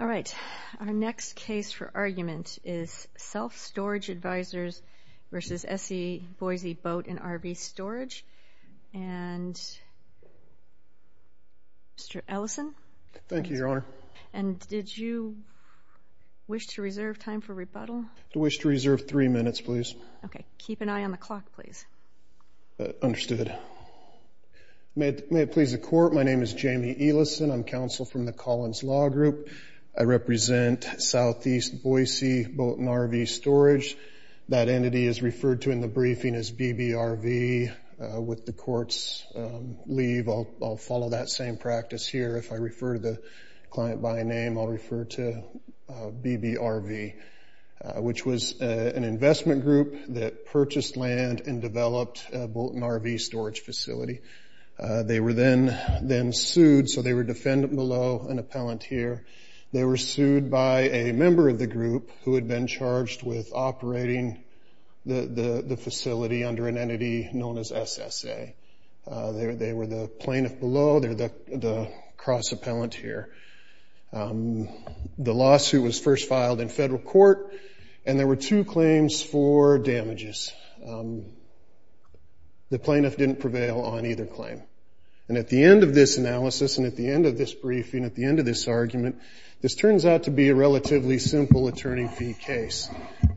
All right, our next case for argument is Self Storage Advisors v. SE Boise Boat & RV Storage, and Mr. Ellison. Thank you, Your Honor. And did you wish to reserve time for rebuttal? I wish to reserve three minutes, please. Okay, keep an eye on the clock, please. Understood. May it please the Court, my name is Jamie Ellison. I'm counsel from the Collins Law Group. I represent SE Boise Boat & RV Storage. That entity is referred to in the briefing as BBRV. With the Court's leave, I'll follow that same practice here. If I refer to the client by name, I'll refer to BBRV, which was an investment group that purchased land and developed a boat & RV storage facility. They were then sued, so they were defendant below an appellant here. They were sued by a member of the group who had been charged with operating the facility under an entity known as SSA. They were the plaintiff below, they're the cross-appellant here. The lawsuit was first filed in federal court, and there were two claims for damages. The plaintiff didn't prevail on either claim. And at the end of this analysis and at the end of this briefing, at the end of this argument, this turns out to be a relatively simple attorney fee case.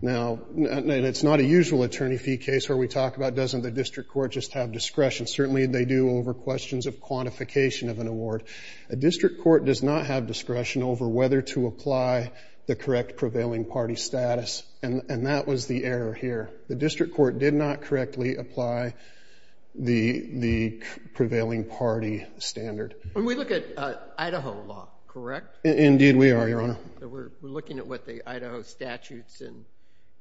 Now, it's not a usual attorney fee case where we talk about, doesn't the district court just have discretion? Certainly they do over questions of quantification of an award. A district court does not have discretion over whether to apply the correct prevailing party status, and that was the error here. The district court did not correctly apply the prevailing party standard. And we look at Idaho law, correct? Indeed we are, Your Honor. We're looking at what the Idaho statutes and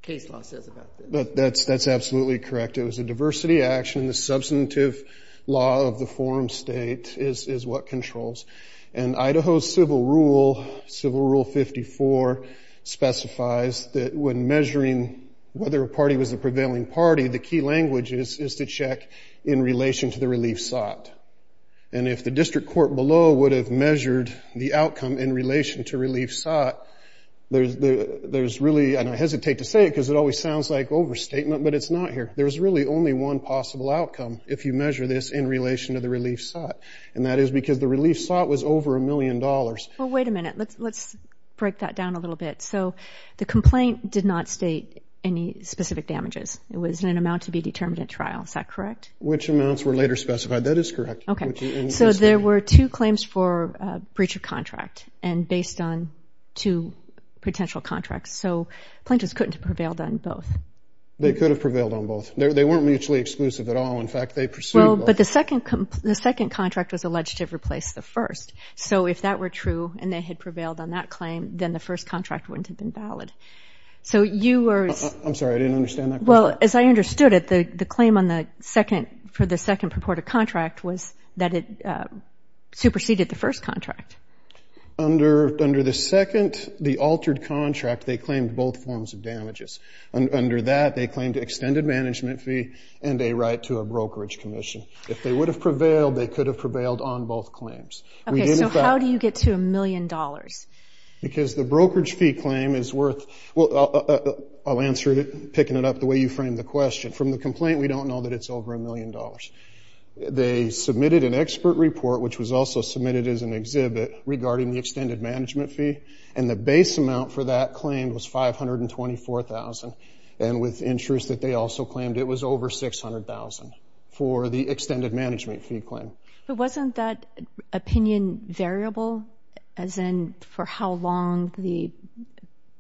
case law says about this. That's absolutely correct. It was a diversity action. The substantive law of the forum state is what controls. And Idaho's civil rule, Civil Rule 54, specifies that when measuring whether a party was a prevailing party, the key language is to check in relation to the relief sought. And if the district court below would have measured the outcome in relation to relief sought, there's really, and I hesitate to say it because it always sounds like overstatement, but it's not here. There's really only one possible outcome if you measure this in relation to the relief sought, and that is because the relief sought was over a million dollars. Well, wait a minute. Let's break that down a little bit. So the complaint did not state any specific damages. It was an amount to be determined at trial. Is that correct? Which amounts were later specified. That is correct. Okay. So there were two claims for breach of contract and based on two potential contracts. So plaintiffs couldn't have prevailed on both. They could have prevailed on both. They weren't mutually exclusive at all. In fact, they pursued both. Well, but the second contract was alleged to have replaced the first. So if that were true and they had prevailed on that claim, then the first contract wouldn't have been valid. So you were as – I'm sorry. I didn't understand that question. Well, as I understood it, the claim for the second purported contract was that it superseded the first contract. Under the second, the altered contract, they claimed both forms of damages. Under that, they claimed extended management fee and a right to a brokerage commission. If they would have prevailed, they could have prevailed on both claims. Okay. So how do you get to a million dollars? Because the brokerage fee claim is worth – well, I'll answer it, picking it up the way you framed the question. From the complaint, we don't know that it's over a million dollars. They submitted an expert report, which was also submitted as an exhibit, regarding the extended management fee. And the base amount for that claim was $524,000. And with interest that they also claimed, it was over $600,000 for the extended management fee claim. But wasn't that opinion variable, as in for how long the –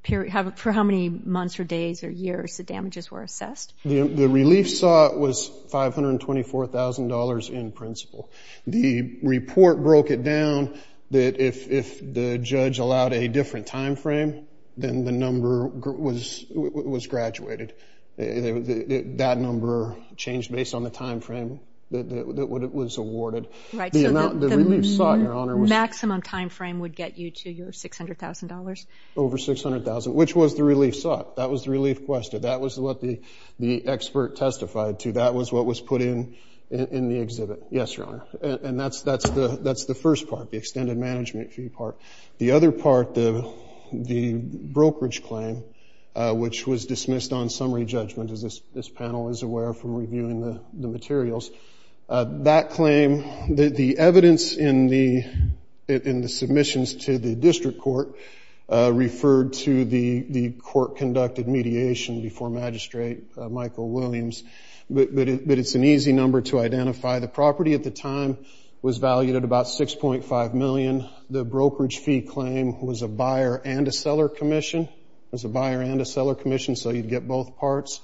for how many months or days or years the damages were assessed? The relief sought was $524,000 in principle. The report broke it down that if the judge allowed a different timeframe, then the number was graduated. That number changed based on the timeframe that it was awarded. Right. So the relief sought, Your Honor, was – The maximum timeframe would get you to your $600,000? Over $600,000, which was the relief sought. That was the relief quested. That was what the expert testified to. That was what was put in the exhibit. Yes, Your Honor. And that's the first part, the extended management fee part. The other part, the brokerage claim, which was dismissed on summary judgment, as this panel is aware from reviewing the materials. That claim – the evidence in the submissions to the district court referred to the court-conducted mediation before Magistrate Michael Williams. But it's an easy number to identify. The property at the time was valued at about $6.5 million. The brokerage fee claim was a buyer and a seller commission. It was a buyer and a seller commission, so you'd get both parts.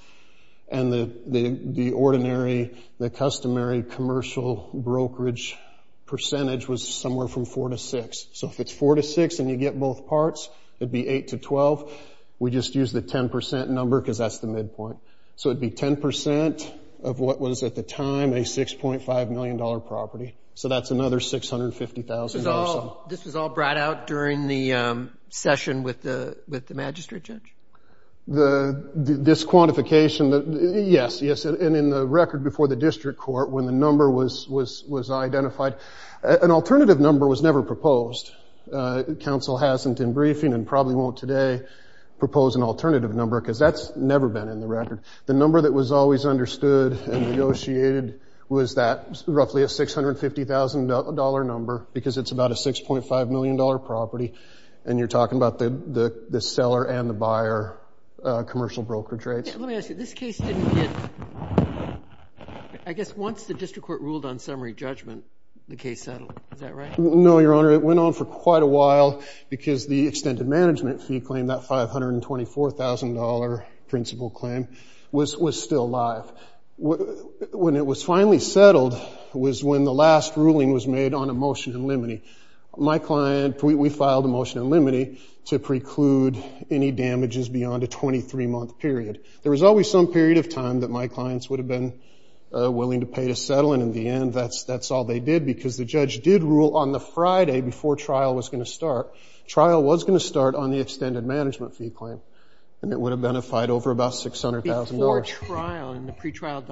And the ordinary – the customary commercial brokerage percentage was somewhere from 4 to 6. So if it's 4 to 6 and you get both parts, it'd be 8 to 12. We just used the 10 percent number because that's the midpoint. So it'd be 10 percent of what was at the time a $6.5 million property. So that's another $650,000 or so. This was all brought out during the session with the magistrate judge? This quantification – yes, yes. And in the record before the district court, when the number was identified, an alternative number was never proposed. Council hasn't in briefing and probably won't today propose an alternative number because that's never been in the record. The number that was always understood and negotiated was that roughly a $650,000 number because it's about a $6.5 million property, and you're talking about the seller and the buyer commercial brokerage rates. Let me ask you. This case didn't get – I guess once the district court ruled on summary judgment, the case settled. Is that right? No, Your Honor. It went on for quite a while because the extended management fee claim, that $524,000 principal claim, was still live. When it was finally settled was when the last ruling was made on a motion in limine. My client – we filed a motion in limine to preclude any damages beyond a 23-month period. There was always some period of time that my clients would have been willing to pay to settle, and in the end that's all they did because the judge did rule on the Friday before trial was going to start. Trial was going to start on the extended management fee claim, and it would have been a fight over about $600,000. Before trial and the pretrial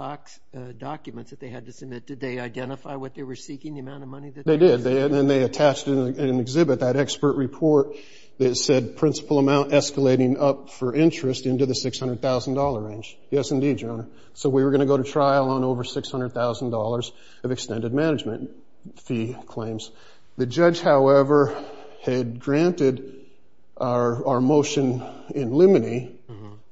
documents that they had to submit, did they identify what they were seeking, the amount of money that they were seeking? They did, and then they attached it in an exhibit, that expert report, that said principal amount escalating up for interest into the $600,000 range. Yes, indeed, Your Honor. So we were going to go to trial on over $600,000 of extended management fee claims. The judge, however, had granted our motion in limine.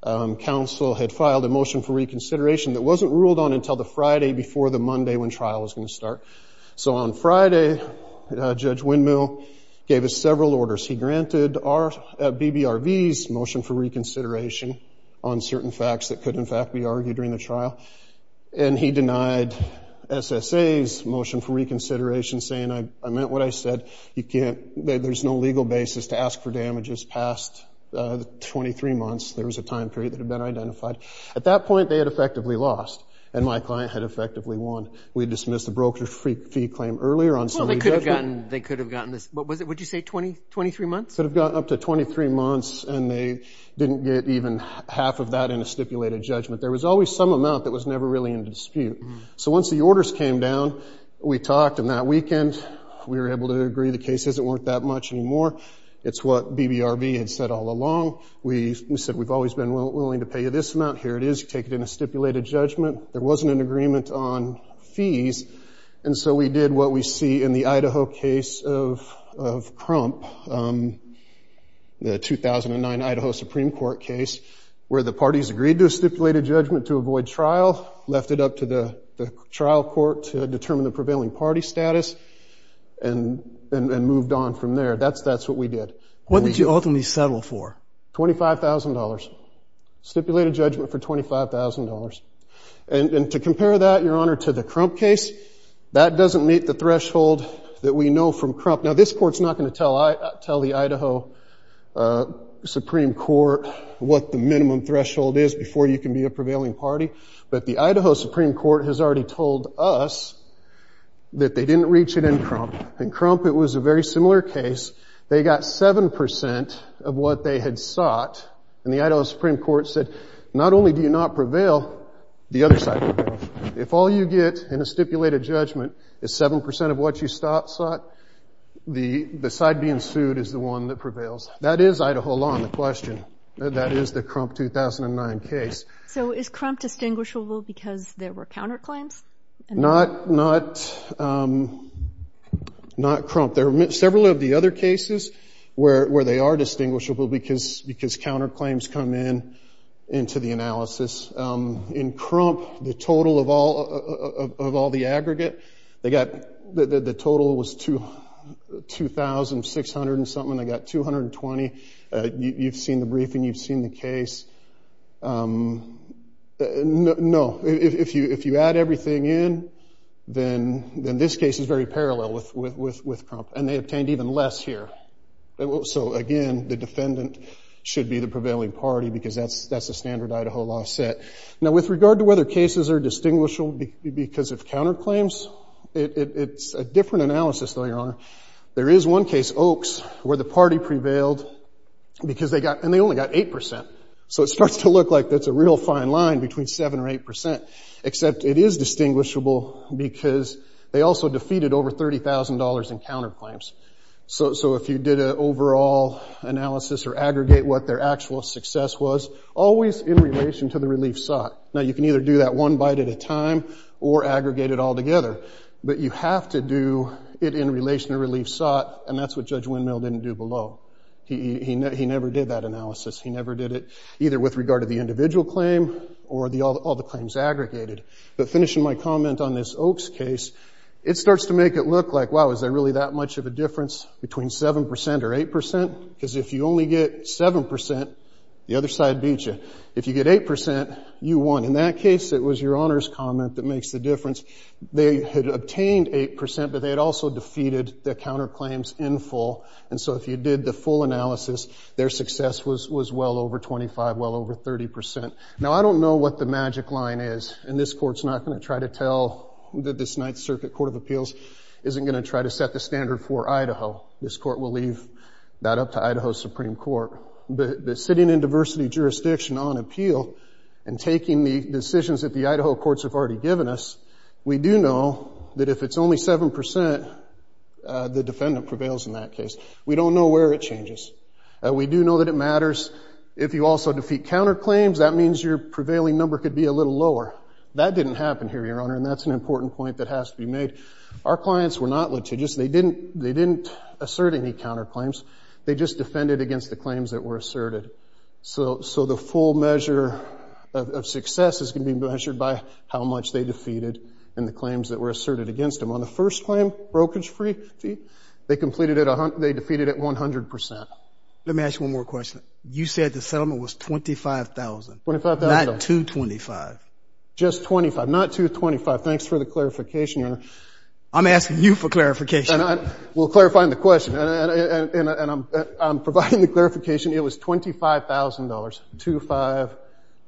Counsel had filed a motion for reconsideration that wasn't ruled on until the Friday before the Monday when trial was going to start. So on Friday, Judge Windmill gave us several orders. He granted BBRV's motion for reconsideration on certain facts that could, in fact, be argued during the trial, and he denied SSA's motion for reconsideration, saying I meant what I said. There's no legal basis to ask for damages past the 23 months. There was a time period that had been identified. At that point, they had effectively lost, and my client had effectively won. We dismissed the broker fee claim earlier on Sunday. They could have gotten this, what did you say, 23 months? Could have gotten up to 23 months, and they didn't get even half of that in a stipulated judgment. There was always some amount that was never really in dispute. So once the orders came down, we talked, and that weekend we were able to agree the cases weren't that much anymore. It's what BBRV had said all along. We said we've always been willing to pay you this amount. Here it is. Take it in a stipulated judgment. There wasn't an agreement on fees. And so we did what we see in the Idaho case of Crump, the 2009 Idaho Supreme Court case, where the parties agreed to a stipulated judgment to avoid trial, left it up to the trial court to determine the prevailing party status, and moved on from there. That's what we did. What did you ultimately settle for? $25,000. Stipulated judgment for $25,000. And to compare that, Your Honor, to the Crump case, that doesn't meet the threshold that we know from Crump. Now, this court's not going to tell the Idaho Supreme Court what the minimum threshold is before you can be a prevailing party, but the Idaho Supreme Court has already told us that they didn't reach it in Crump. In Crump, it was a very similar case. They got 7% of what they had sought, and the Idaho Supreme Court said, not only do you not prevail, the other side prevails. If all you get in a stipulated judgment is 7% of what you sought, the side being sued is the one that prevails. That is Idaho law on the question. That is the Crump 2009 case. So is Crump distinguishable because there were counterclaims? Not Crump. There are several of the other cases where they are distinguishable because counterclaims come in into the analysis. In Crump, the total of all the aggregate, the total was 2,600 and something. They got 220. You've seen the briefing. You've seen the case. No. If you add everything in, then this case is very parallel with Crump, and they obtained even less here. So, again, the defendant should be the prevailing party because that's the standard Idaho law set. Now, with regard to whether cases are distinguishable because of counterclaims, there is one case, Oaks, where the party prevailed because they got, and they only got 8%. So it starts to look like that's a real fine line between 7% or 8%, except it is distinguishable because they also defeated over $30,000 in counterclaims. So if you did an overall analysis or aggregate what their actual success was, always in relation to the relief sought. Now, you can either do that one bite at a time or aggregate it all together, but you have to do it in relation to relief sought, and that's what Judge Windmill didn't do below. He never did that analysis. He never did it either with regard to the individual claim or all the claims aggregated. But finishing my comment on this Oaks case, it starts to make it look like, wow, is there really that much of a difference between 7% or 8%? Because if you only get 7%, the other side beats you. If you get 8%, you won. In that case, it was your Honor's comment that makes the difference. They had obtained 8%, but they had also defeated the counterclaims in full, and so if you did the full analysis, their success was well over 25%, well over 30%. Now, I don't know what the magic line is, and this Court's not going to try to tell that this Ninth Circuit Court of Appeals isn't going to try to set the standard for Idaho. This Court will leave that up to Idaho Supreme Court. But sitting in diversity jurisdiction on appeal and taking the decisions that the Idaho courts have already given us, we do know that if it's only 7%, the defendant prevails in that case. We don't know where it changes. We do know that it matters. If you also defeat counterclaims, that means your prevailing number could be a little lower. That didn't happen here, Your Honor, and that's an important point that has to be made. Our clients were not litigious. They didn't assert any counterclaims. They just defended against the claims that were asserted. So the full measure of success is going to be measured by how much they defeated in the claims that were asserted against them. On the first claim, brokerage-free fee, they defeated it 100%. Let me ask you one more question. You said the settlement was $25,000, not $225,000. Just $25,000, not $225,000. Thanks for the clarification, Your Honor. I'm asking you for clarification. We're clarifying the question, and I'm providing the clarification. It was $25,000, 2-5-0-0-0.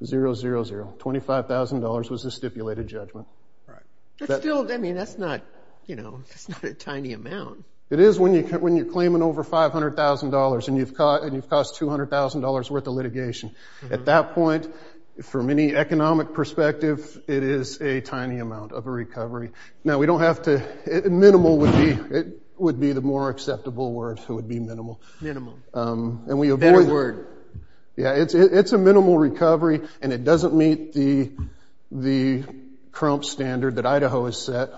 $25,000 was the stipulated judgment. Right. I mean, that's not a tiny amount. It is when you're claiming over $500,000 and you've cost $200,000 worth of litigation. At that point, from any economic perspective, it is a tiny amount of a recovery. Now, we don't have to – minimal would be the more acceptable word. It would be minimal. Minimal. And we avoid – Better word. Yeah, it's a minimal recovery, and it doesn't meet the crump standard that Idaho has set.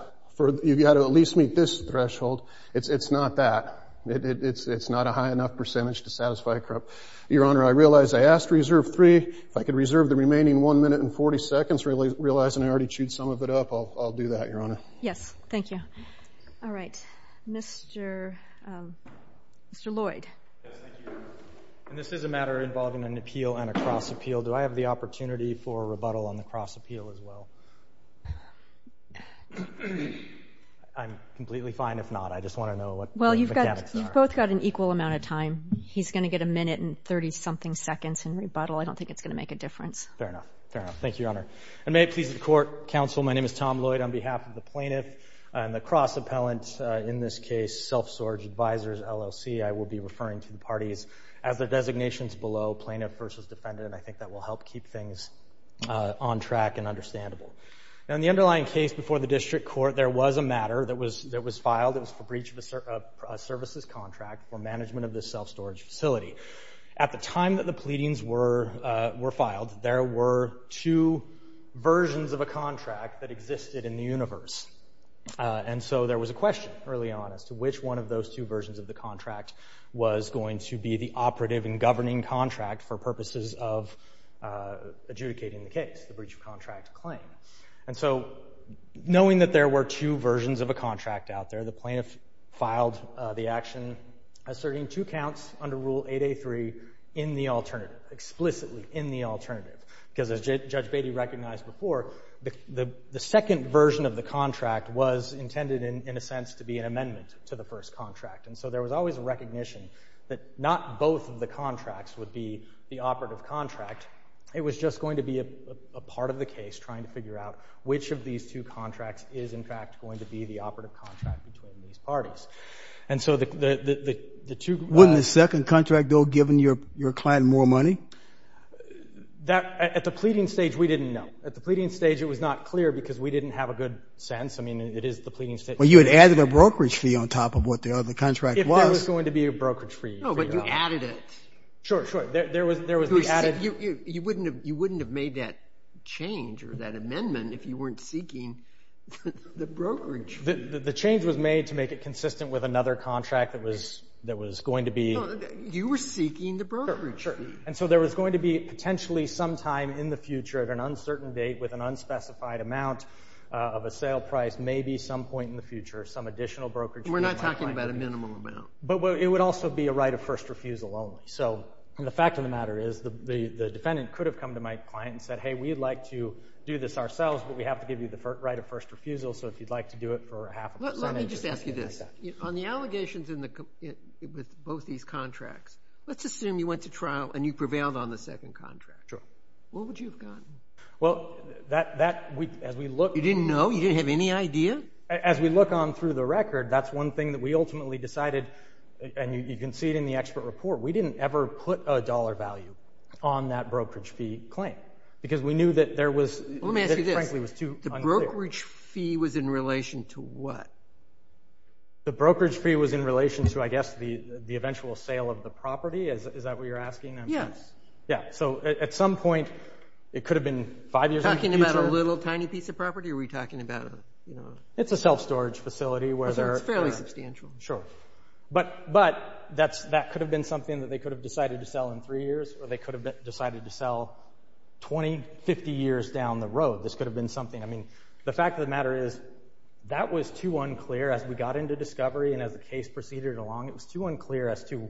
You've got to at least meet this threshold. It's not that. It's not a high enough percentage to satisfy a crump. Your Honor, I realize I asked reserve free. If I could reserve the remaining 1 minute and 40 seconds, realizing I already chewed some of it up, I'll do that, Your Honor. Yes. Thank you. All right. Mr. Lloyd. Yes, thank you, Your Honor. And this is a matter involving an appeal and a cross-appeal. Do I have the opportunity for a rebuttal on the cross-appeal as well? I'm completely fine if not. I just want to know what the mechanics are. Well, you've both got an equal amount of time. He's going to get a minute and 30-something seconds in rebuttal. I don't think it's going to make a difference. Fair enough. Fair enough. Thank you, Your Honor. And may it please the Court, Counsel, my name is Tom Lloyd. On behalf of the plaintiff and the cross-appellant, in this case, Self-Storage Advisors, LLC, I will be referring to the parties as their designations below, plaintiff versus defendant, and I think that will help keep things on track and understandable. Now, in the underlying case before the district court, there was a matter that was filed. It was for breach of a services contract for management of the self-storage facility. At the time that the pleadings were filed, there were two versions of a contract that existed in the universe. And so there was a question early on as to which one of those two versions of the contract was going to be the operative and governing contract for purposes of adjudicating the case, the breach of contract claim. And so knowing that there were two versions of a contract out there, the plaintiff filed the action asserting two counts under Rule 8A3 in the alternative, explicitly in the alternative, because as Judge Beatty recognized before, the second version of the contract was intended in a sense to be an amendment to the first contract. And so there was always a recognition that not both of the contracts would be the operative contract. It was just going to be a part of the case, trying to figure out which of these two contracts is, in fact, going to be the operative contract between these parties. And so the two— Wasn't the second contract, though, giving your client more money? At the pleading stage, we didn't know. At the pleading stage, it was not clear because we didn't have a good sense. I mean, it is the pleading stage. Well, you had added a brokerage fee on top of what the other contract was. If there was going to be a brokerage fee. No, but you added it. Sure, sure. There was the added— You wouldn't have made that change or that amendment if you weren't seeking the brokerage fee. The change was made to make it consistent with another contract that was going to be— No, you were seeking the brokerage fee. And so there was going to be potentially sometime in the future, at an uncertain date, with an unspecified amount of a sale price, maybe some point in the future, some additional brokerage fee. We're not talking about a minimum amount. But it would also be a right of first refusal only. So the fact of the matter is the defendant could have come to my client and said, hey, we'd like to do this ourselves, but we have to give you the right of first refusal. So if you'd like to do it for half a percentage— Let me just ask you this. On the allegations with both these contracts, let's assume you went to trial and you prevailed on the second contract. What would you have gotten? Well, that— You didn't know? You didn't have any idea? As we look on through the record, that's one thing that we ultimately decided, and you can see it in the expert report, we didn't ever put a dollar value on that brokerage fee claim because we knew that there was— Let me ask you this. Frankly, it was too unclear. The brokerage fee was in relation to what? The brokerage fee was in relation to, I guess, the eventual sale of the property. Is that what you're asking? Yes. Yeah. So at some point, it could have been five years in the future. Are we talking about a little, tiny piece of property, or are we talking about a— It's a self-storage facility where there are— It's fairly substantial. Sure. But that could have been something that they could have decided to sell in three years, or they could have decided to sell 20, 50 years down the road. This could have been something. I mean, the fact of the matter is that was too unclear as we got into discovery and as the case proceeded along. It was too unclear as to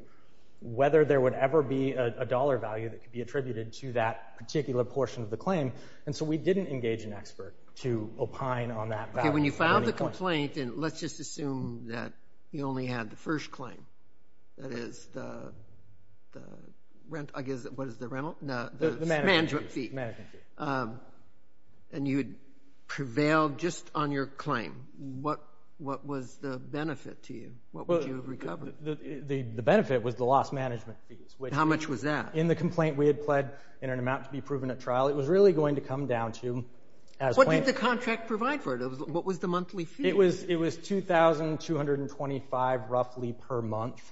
whether there would ever be a dollar value that could be attributed to that particular portion of the claim, When you filed the complaint, and let's just assume that you only had the first claim, that is, the management fee, and you had prevailed just on your claim, what was the benefit to you? What would you have recovered? The benefit was the lost management fees. How much was that? In the complaint, we had pled in an amount to be proven at trial. It was really going to come down to— What did the contract provide for it? What was the monthly fee? It was $2,225 roughly per month,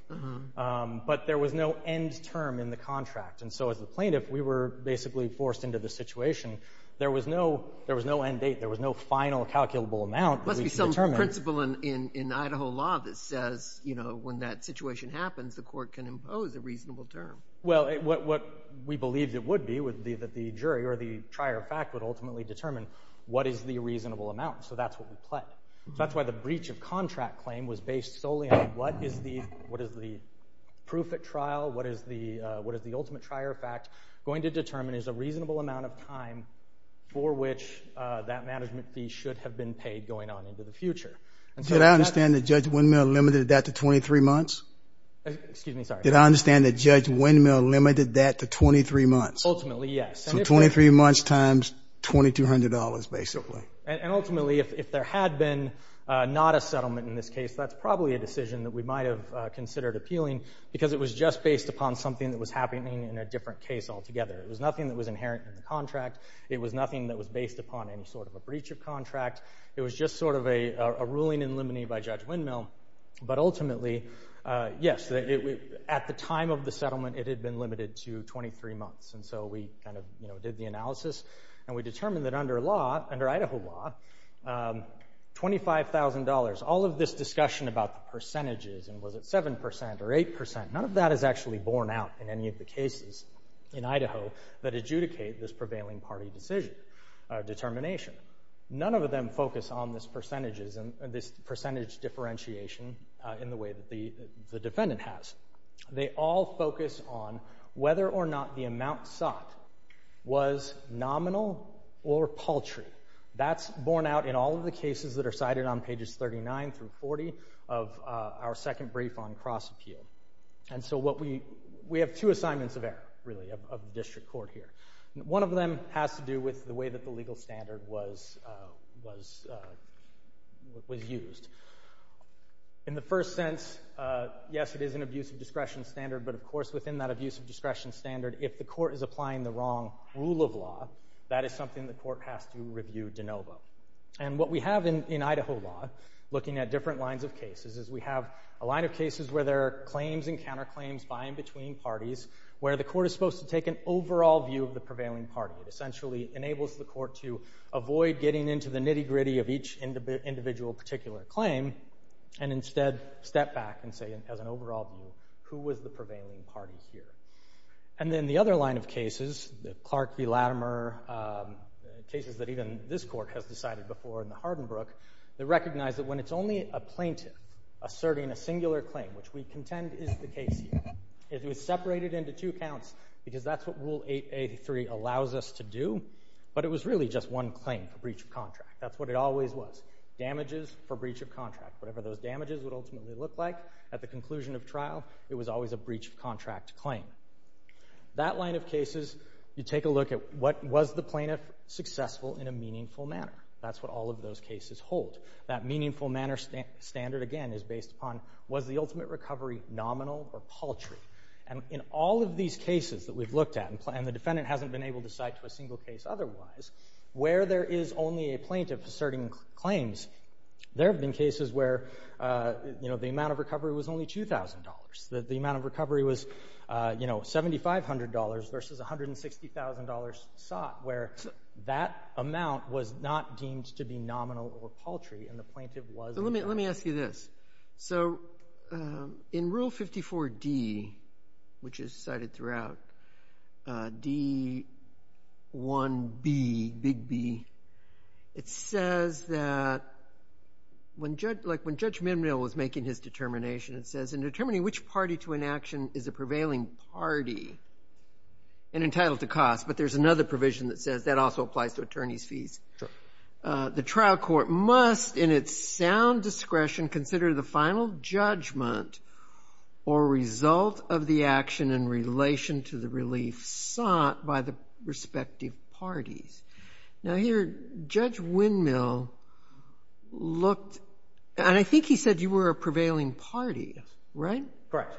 but there was no end term in the contract. And so as the plaintiff, we were basically forced into the situation. There was no end date. There was no final calculable amount that we could determine. There must be some principle in Idaho law that says when that situation happens, the court can impose a reasonable term. Well, what we believed it would be would be that the jury, or the trier of fact, would ultimately determine what is the reasonable amount, so that's what we pled. That's why the breach of contract claim was based solely on what is the proof at trial, what is the ultimate trier of fact going to determine is a reasonable amount of time for which that management fee should have been paid going on into the future. Did I understand that Judge Windmill limited that to 23 months? Excuse me? Sorry. Did I understand that Judge Windmill limited that to 23 months? Ultimately, yes. So 23 months times $2,200 basically. And ultimately, if there had been not a settlement in this case, that's probably a decision that we might have considered appealing because it was just based upon something that was happening in a different case altogether. It was nothing that was inherent in the contract. It was nothing that was based upon any sort of a breach of contract. It was just sort of a ruling in limine by Judge Windmill. But ultimately, yes, at the time of the settlement, it had been limited to 23 months. And so we kind of did the analysis, and we determined that under Idaho law, $25,000. All of this discussion about the percentages, and was it 7% or 8%, none of that is actually borne out in any of the cases in Idaho that adjudicate this prevailing party determination. None of them focus on this percentage differentiation in the way that the defendant has. They all focus on whether or not the amount sought was nominal or paltry. That's borne out in all of the cases that are cited on pages 39 through 40 of our second brief on cross-appeal. And so we have two assignments of error, really, of the district court here. One of them has to do with the way that the legal standard was used. In the first sense, yes, it is an abuse of discretion standard, but of course within that abuse of discretion standard, if the court is applying the wrong rule of law, that is something the court has to review de novo. And what we have in Idaho law, looking at different lines of cases, is we have a line of cases where there are claims and counterclaims by and between parties, where the court is supposed to take an overall view of the prevailing party. It essentially enables the court to avoid getting into the nitty-gritty of each individual particular claim and instead step back and say, as an overall view, who was the prevailing party here? And then the other line of cases, Clark v. Latimer, cases that even this court has decided before in the Hardenbrook, they recognize that when it's only a plaintiff asserting a singular claim, which we contend is the case here, it was separated into two counts because that's what Rule 883 allows us to do, but it was really just one claim, a breach of contract. That's what it always was, damages for breach of contract. Whatever those damages would ultimately look like at the conclusion of trial, it was always a breach of contract claim. That line of cases, you take a look at what was the plaintiff successful in a meaningful manner. That's what all of those cases hold. That meaningful manner standard, again, is based upon, was the ultimate recovery nominal or paltry? And in all of these cases that we've looked at, and the defendant hasn't been able to cite to a single case otherwise, where there is only a plaintiff asserting claims, there have been cases where the amount of recovery was only $2,000. The amount of recovery was $7,500 versus $160,000 sought, where that amount was not deemed to be nominal or paltry, and the plaintiff was not. Let me ask you this. In Rule 54D, which is cited throughout, D1B, Big B, it says that when Judge Mimril was making his determination, it says, in determining which party to enaction is a prevailing party and entitled to cost, but there's another provision that says that also applies to attorney's fees. Sure. The trial court must, in its sound discretion, consider the final judgment or result of the action in relation to the relief sought by the respective parties. Now, here, Judge Windmill looked, and I think he said you were a prevailing party, right? Correct.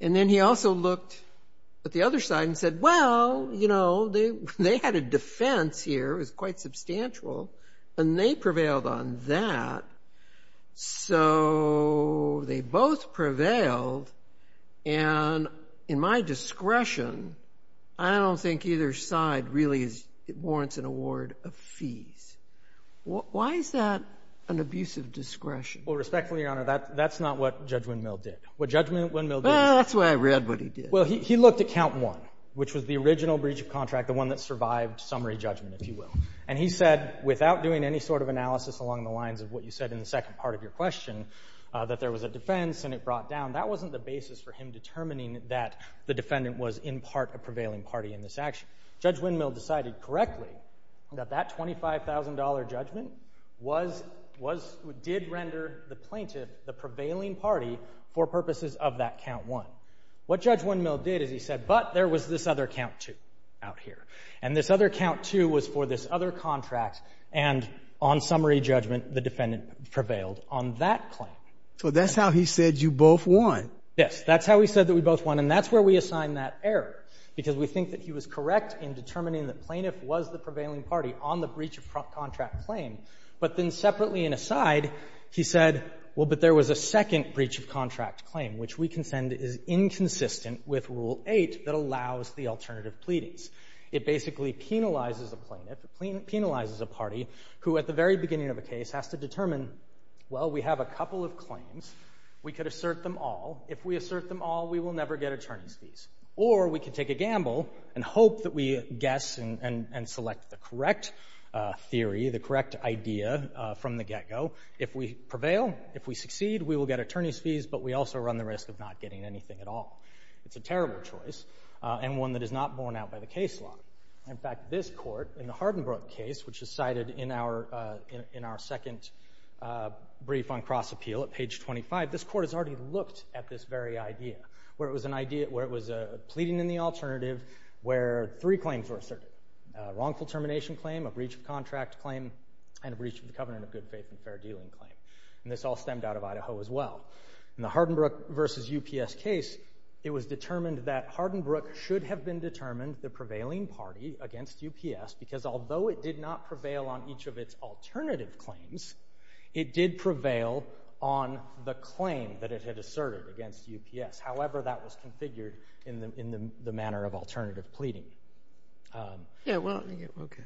And then he also looked at the other side and said, well, you know, they had a defense here. It was quite substantial, and they prevailed on that. So they both prevailed, and in my discretion, I don't think either side really warrants an award of fees. Why is that an abusive discretion? Well, respectfully, Your Honor, that's not what Judge Windmill did. Well, that's why I read what he did. Well, he looked at count one, which was the original breach of contract, the one that survived summary judgment, if you will. And he said, without doing any sort of analysis along the lines of what you said in the second part of your question, that there was a defense and it brought down, that wasn't the basis for him determining that the defendant was in part a prevailing party in this action. Judge Windmill decided correctly that that $25,000 judgment did render the plaintiff, the prevailing party, for purposes of that count one. What Judge Windmill did is he said, but there was this other count two out here, and this other count two was for this other contract, and on summary judgment, the defendant prevailed on that claim. So that's how he said you both won. Yes, that's how he said that we both won, and that's where we assign that error, because we think that he was correct in determining that the plaintiff was the prevailing party on the breach of contract claim. But then separately and aside, he said, well, but there was a second breach of contract claim, which we consent is inconsistent with Rule 8 that allows the alternative pleadings. It basically penalizes a plaintiff, penalizes a party, who at the very beginning of a case has to determine, well, we have a couple of claims. We could assert them all. If we assert them all, we will never get attorney's fees. Or we could take a gamble and hope that we guess and select the correct theory, the correct idea from the get-go. If we prevail, if we succeed, we will get attorney's fees, but we also run the risk of not getting anything at all. It's a terrible choice and one that is not borne out by the case law. In fact, this court in the Hardenbrook case, which is cited in our second brief on cross-appeal at page 25, this court has already looked at this very idea, where it was a pleading in the alternative, where three claims were asserted, a wrongful termination claim, a breach of contract claim, and a breach of the covenant of good faith and fair dealing claim. And this all stemmed out of Idaho as well. In the Hardenbrook v. UPS case, it was determined that Hardenbrook should have been determined, the prevailing party against UPS, because although it did not prevail on each of its alternative claims, it did prevail on the claim that it had asserted against UPS, however that was configured in the manner of alternative pleading. Yeah, well, okay.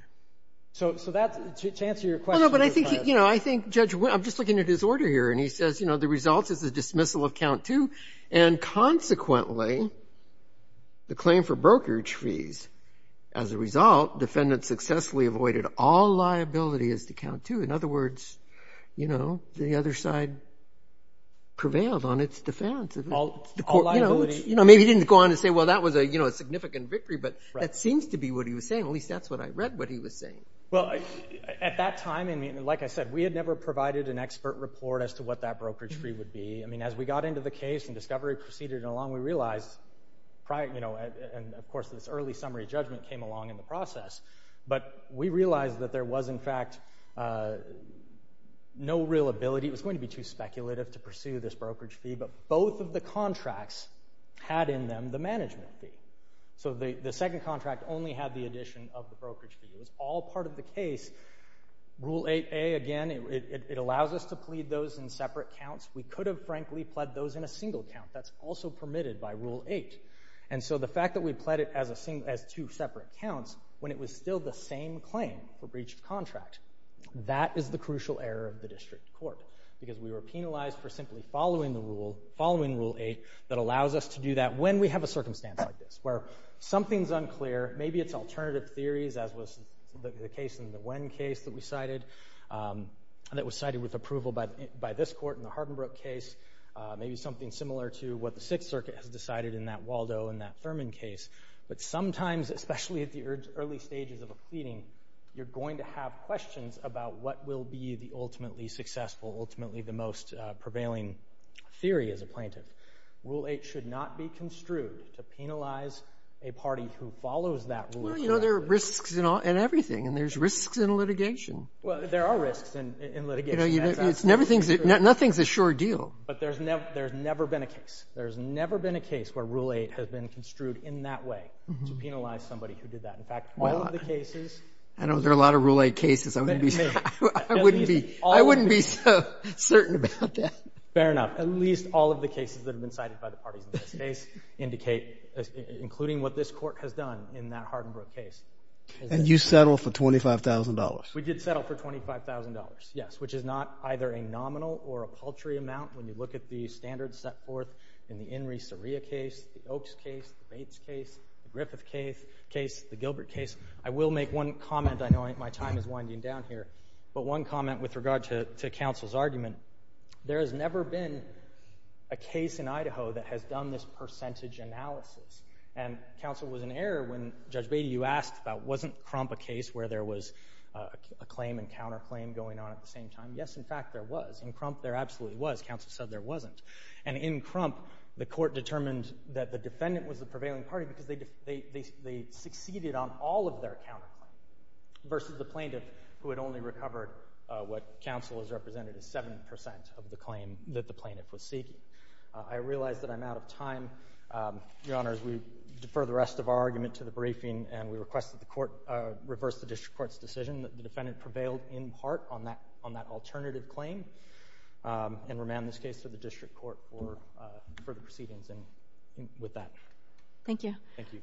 So that's, to answer your question. Well, no, but I think, you know, I think Judge, I'm just looking at his order here, and he says, you know, the result is the dismissal of count two, and consequently the claim for brokerage fees. As a result, defendant successfully avoided all liabilities to count two. In other words, you know, the other side prevailed on its defense. All liabilities. You know, maybe he didn't go on to say, well, that was a significant victory, but that seems to be what he was saying. At least that's what I read what he was saying. Well, at that time, like I said, we had never provided an expert report as to what that brokerage fee would be. I mean, as we got into the case and discovery proceeded along, we realized, and of course this early summary judgment came along in the process, but we realized that there was, in fact, no real ability. It was going to be too speculative to pursue this brokerage fee, but both of the contracts had in them the management fee. So the second contract only had the addition of the brokerage fee. It was all part of the case. Rule 8A, again, it allows us to plead those in separate counts. We could have, frankly, pled those in a single count. That's also permitted by Rule 8. And so the fact that we pled it as two separate counts, when it was still the same claim for breach of contract, that is the crucial error of the district court, because we were penalized for simply following the rule, following Rule 8, that allows us to do that when we have a circumstance like this, where something's unclear, maybe it's alternative theories, as was the case in the Wen case that we cited, that was cited with approval by this court in the Hardenbrook case, maybe something similar to what the Sixth Circuit has decided in that Waldo and that Thurman case. But sometimes, especially at the early stages of a pleading, you're going to have questions about what will be the ultimately successful, ultimately the most prevailing theory as a plaintiff. Rule 8 should not be construed to penalize a party who follows that rule. Well, you know, there are risks in everything, and there's risks in litigation. Well, there are risks in litigation. Nothing's a sure deal. But there's never been a case. There's never been a case where Rule 8 has been construed in that way, to penalize somebody who did that. In fact, all of the cases— I know there are a lot of Rule 8 cases. I wouldn't be so certain about that. Fair enough. At least all of the cases that have been cited by the parties in this case indicate, including what this court has done in that Hardenbrook case. And you settled for $25,000. We did settle for $25,000, yes, which is not either a nominal or a paltry amount when you look at the standards set forth in the In re Seria case, the Oakes case, the Bates case, the Griffith case, the Gilbert case. I will make one comment. I know my time is winding down here. But one comment with regard to counsel's argument. There has never been a case in Idaho that has done this percentage analysis. And counsel was in error when, Judge Beatty, you asked about, wasn't Crump a case where there was a claim and counterclaim going on at the same time? Yes, in fact, there was. In Crump, there absolutely was. Counsel said there wasn't. And in Crump, the court determined that the defendant was the prevailing party because they succeeded on all of their counterclaims versus the plaintiff, who had only recovered what counsel has represented as 7% of the claim that the plaintiff was seeking. I realize that I'm out of time. Your Honor, as we defer the rest of our argument to the briefing and we request that the court reverse the district court's decision that the defendant prevailed in part on that alternative claim and remand this case to the district court for further proceedings with that. Thank you. Thank you.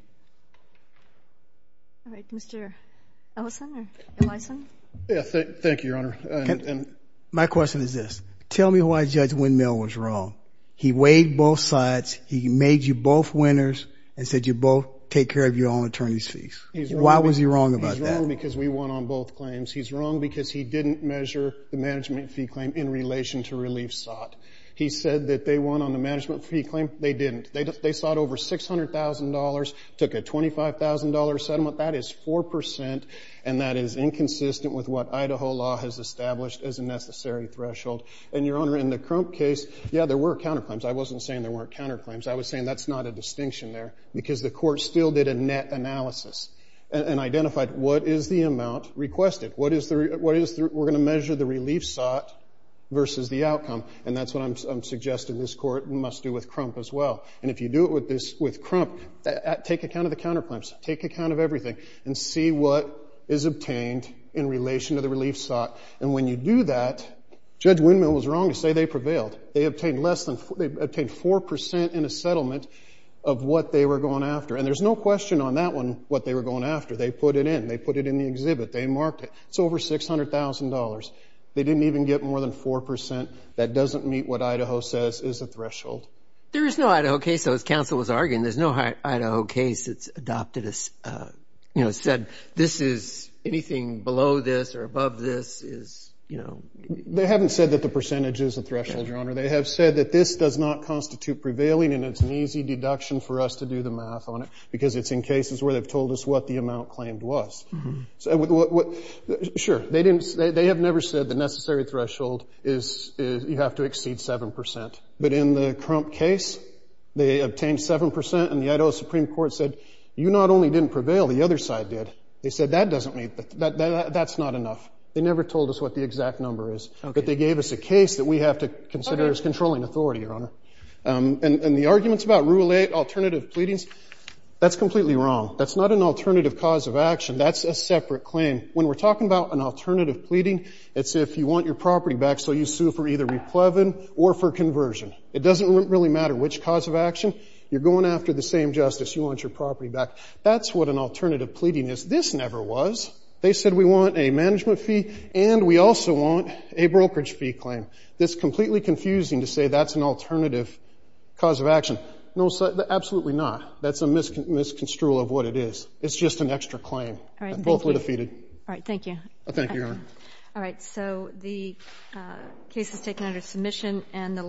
All right. Mr. Ellison or Elison? Yes, thank you, Your Honor. My question is this. Tell me why Judge Windmill was wrong. He weighed both sides. He made you both winners and said you both take care of your own attorney's fees. Why was he wrong about that? He's wrong because we won on both claims. He's wrong because he didn't measure the management fee claim in relation to relief sought. He said that they won on the management fee claim. They didn't. They sought over $600,000, took a $25,000 settlement. That is 4%, and that is inconsistent with what Idaho law has established as a necessary threshold. And, Your Honor, in the Crump case, yeah, there were counterclaims. I wasn't saying there weren't counterclaims. I was saying that's not a distinction there because the court still did a net analysis and identified what is the amount requested. We're going to measure the relief sought versus the outcome, and that's what I'm suggesting this court must do with Crump as well. And if you do it with Crump, take account of the counterclaims. Take account of everything and see what is obtained in relation to the relief sought. And when you do that, Judge Windmill was wrong to say they prevailed. They obtained 4% in a settlement of what they were going after, and there's no question on that one what they were going after. They put it in. They put it in the exhibit. They marked it. It's over $600,000. They didn't even get more than 4%. That doesn't meet what Idaho says is a threshold. There is no Idaho case, though, as counsel was arguing. There's no Idaho case that's adopted, you know, said this is anything below this or above this is, you know. They haven't said that the percentage is a threshold, Your Honor. They have said that this does not constitute prevailing and it's an easy deduction for us to do the math on it because it's in cases where they've told us what the amount claimed was. Sure. They have never said the necessary threshold is you have to exceed 7%. But in the Crump case, they obtained 7%, and the Idaho Supreme Court said you not only didn't prevail, the other side did. They said that doesn't meet. That's not enough. They never told us what the exact number is, but they gave us a case that we have to consider as controlling authority, Your Honor. And the arguments about Rule 8 alternative pleadings, that's completely wrong. That's not an alternative cause of action. That's a separate claim. When we're talking about an alternative pleading, it's if you want your property back so you sue for either replevin or for conversion. It doesn't really matter which cause of action. You're going after the same justice. You want your property back. That's what an alternative pleading is. This never was. They said we want a management fee and we also want a brokerage fee claim. It's completely confusing to say that's an alternative cause of action. No, absolutely not. That's a misconstrual of what it is. It's just an extra claim. Both were defeated. All right. Thank you. Thank you, Your Honor. All right. So the case is taken under submission.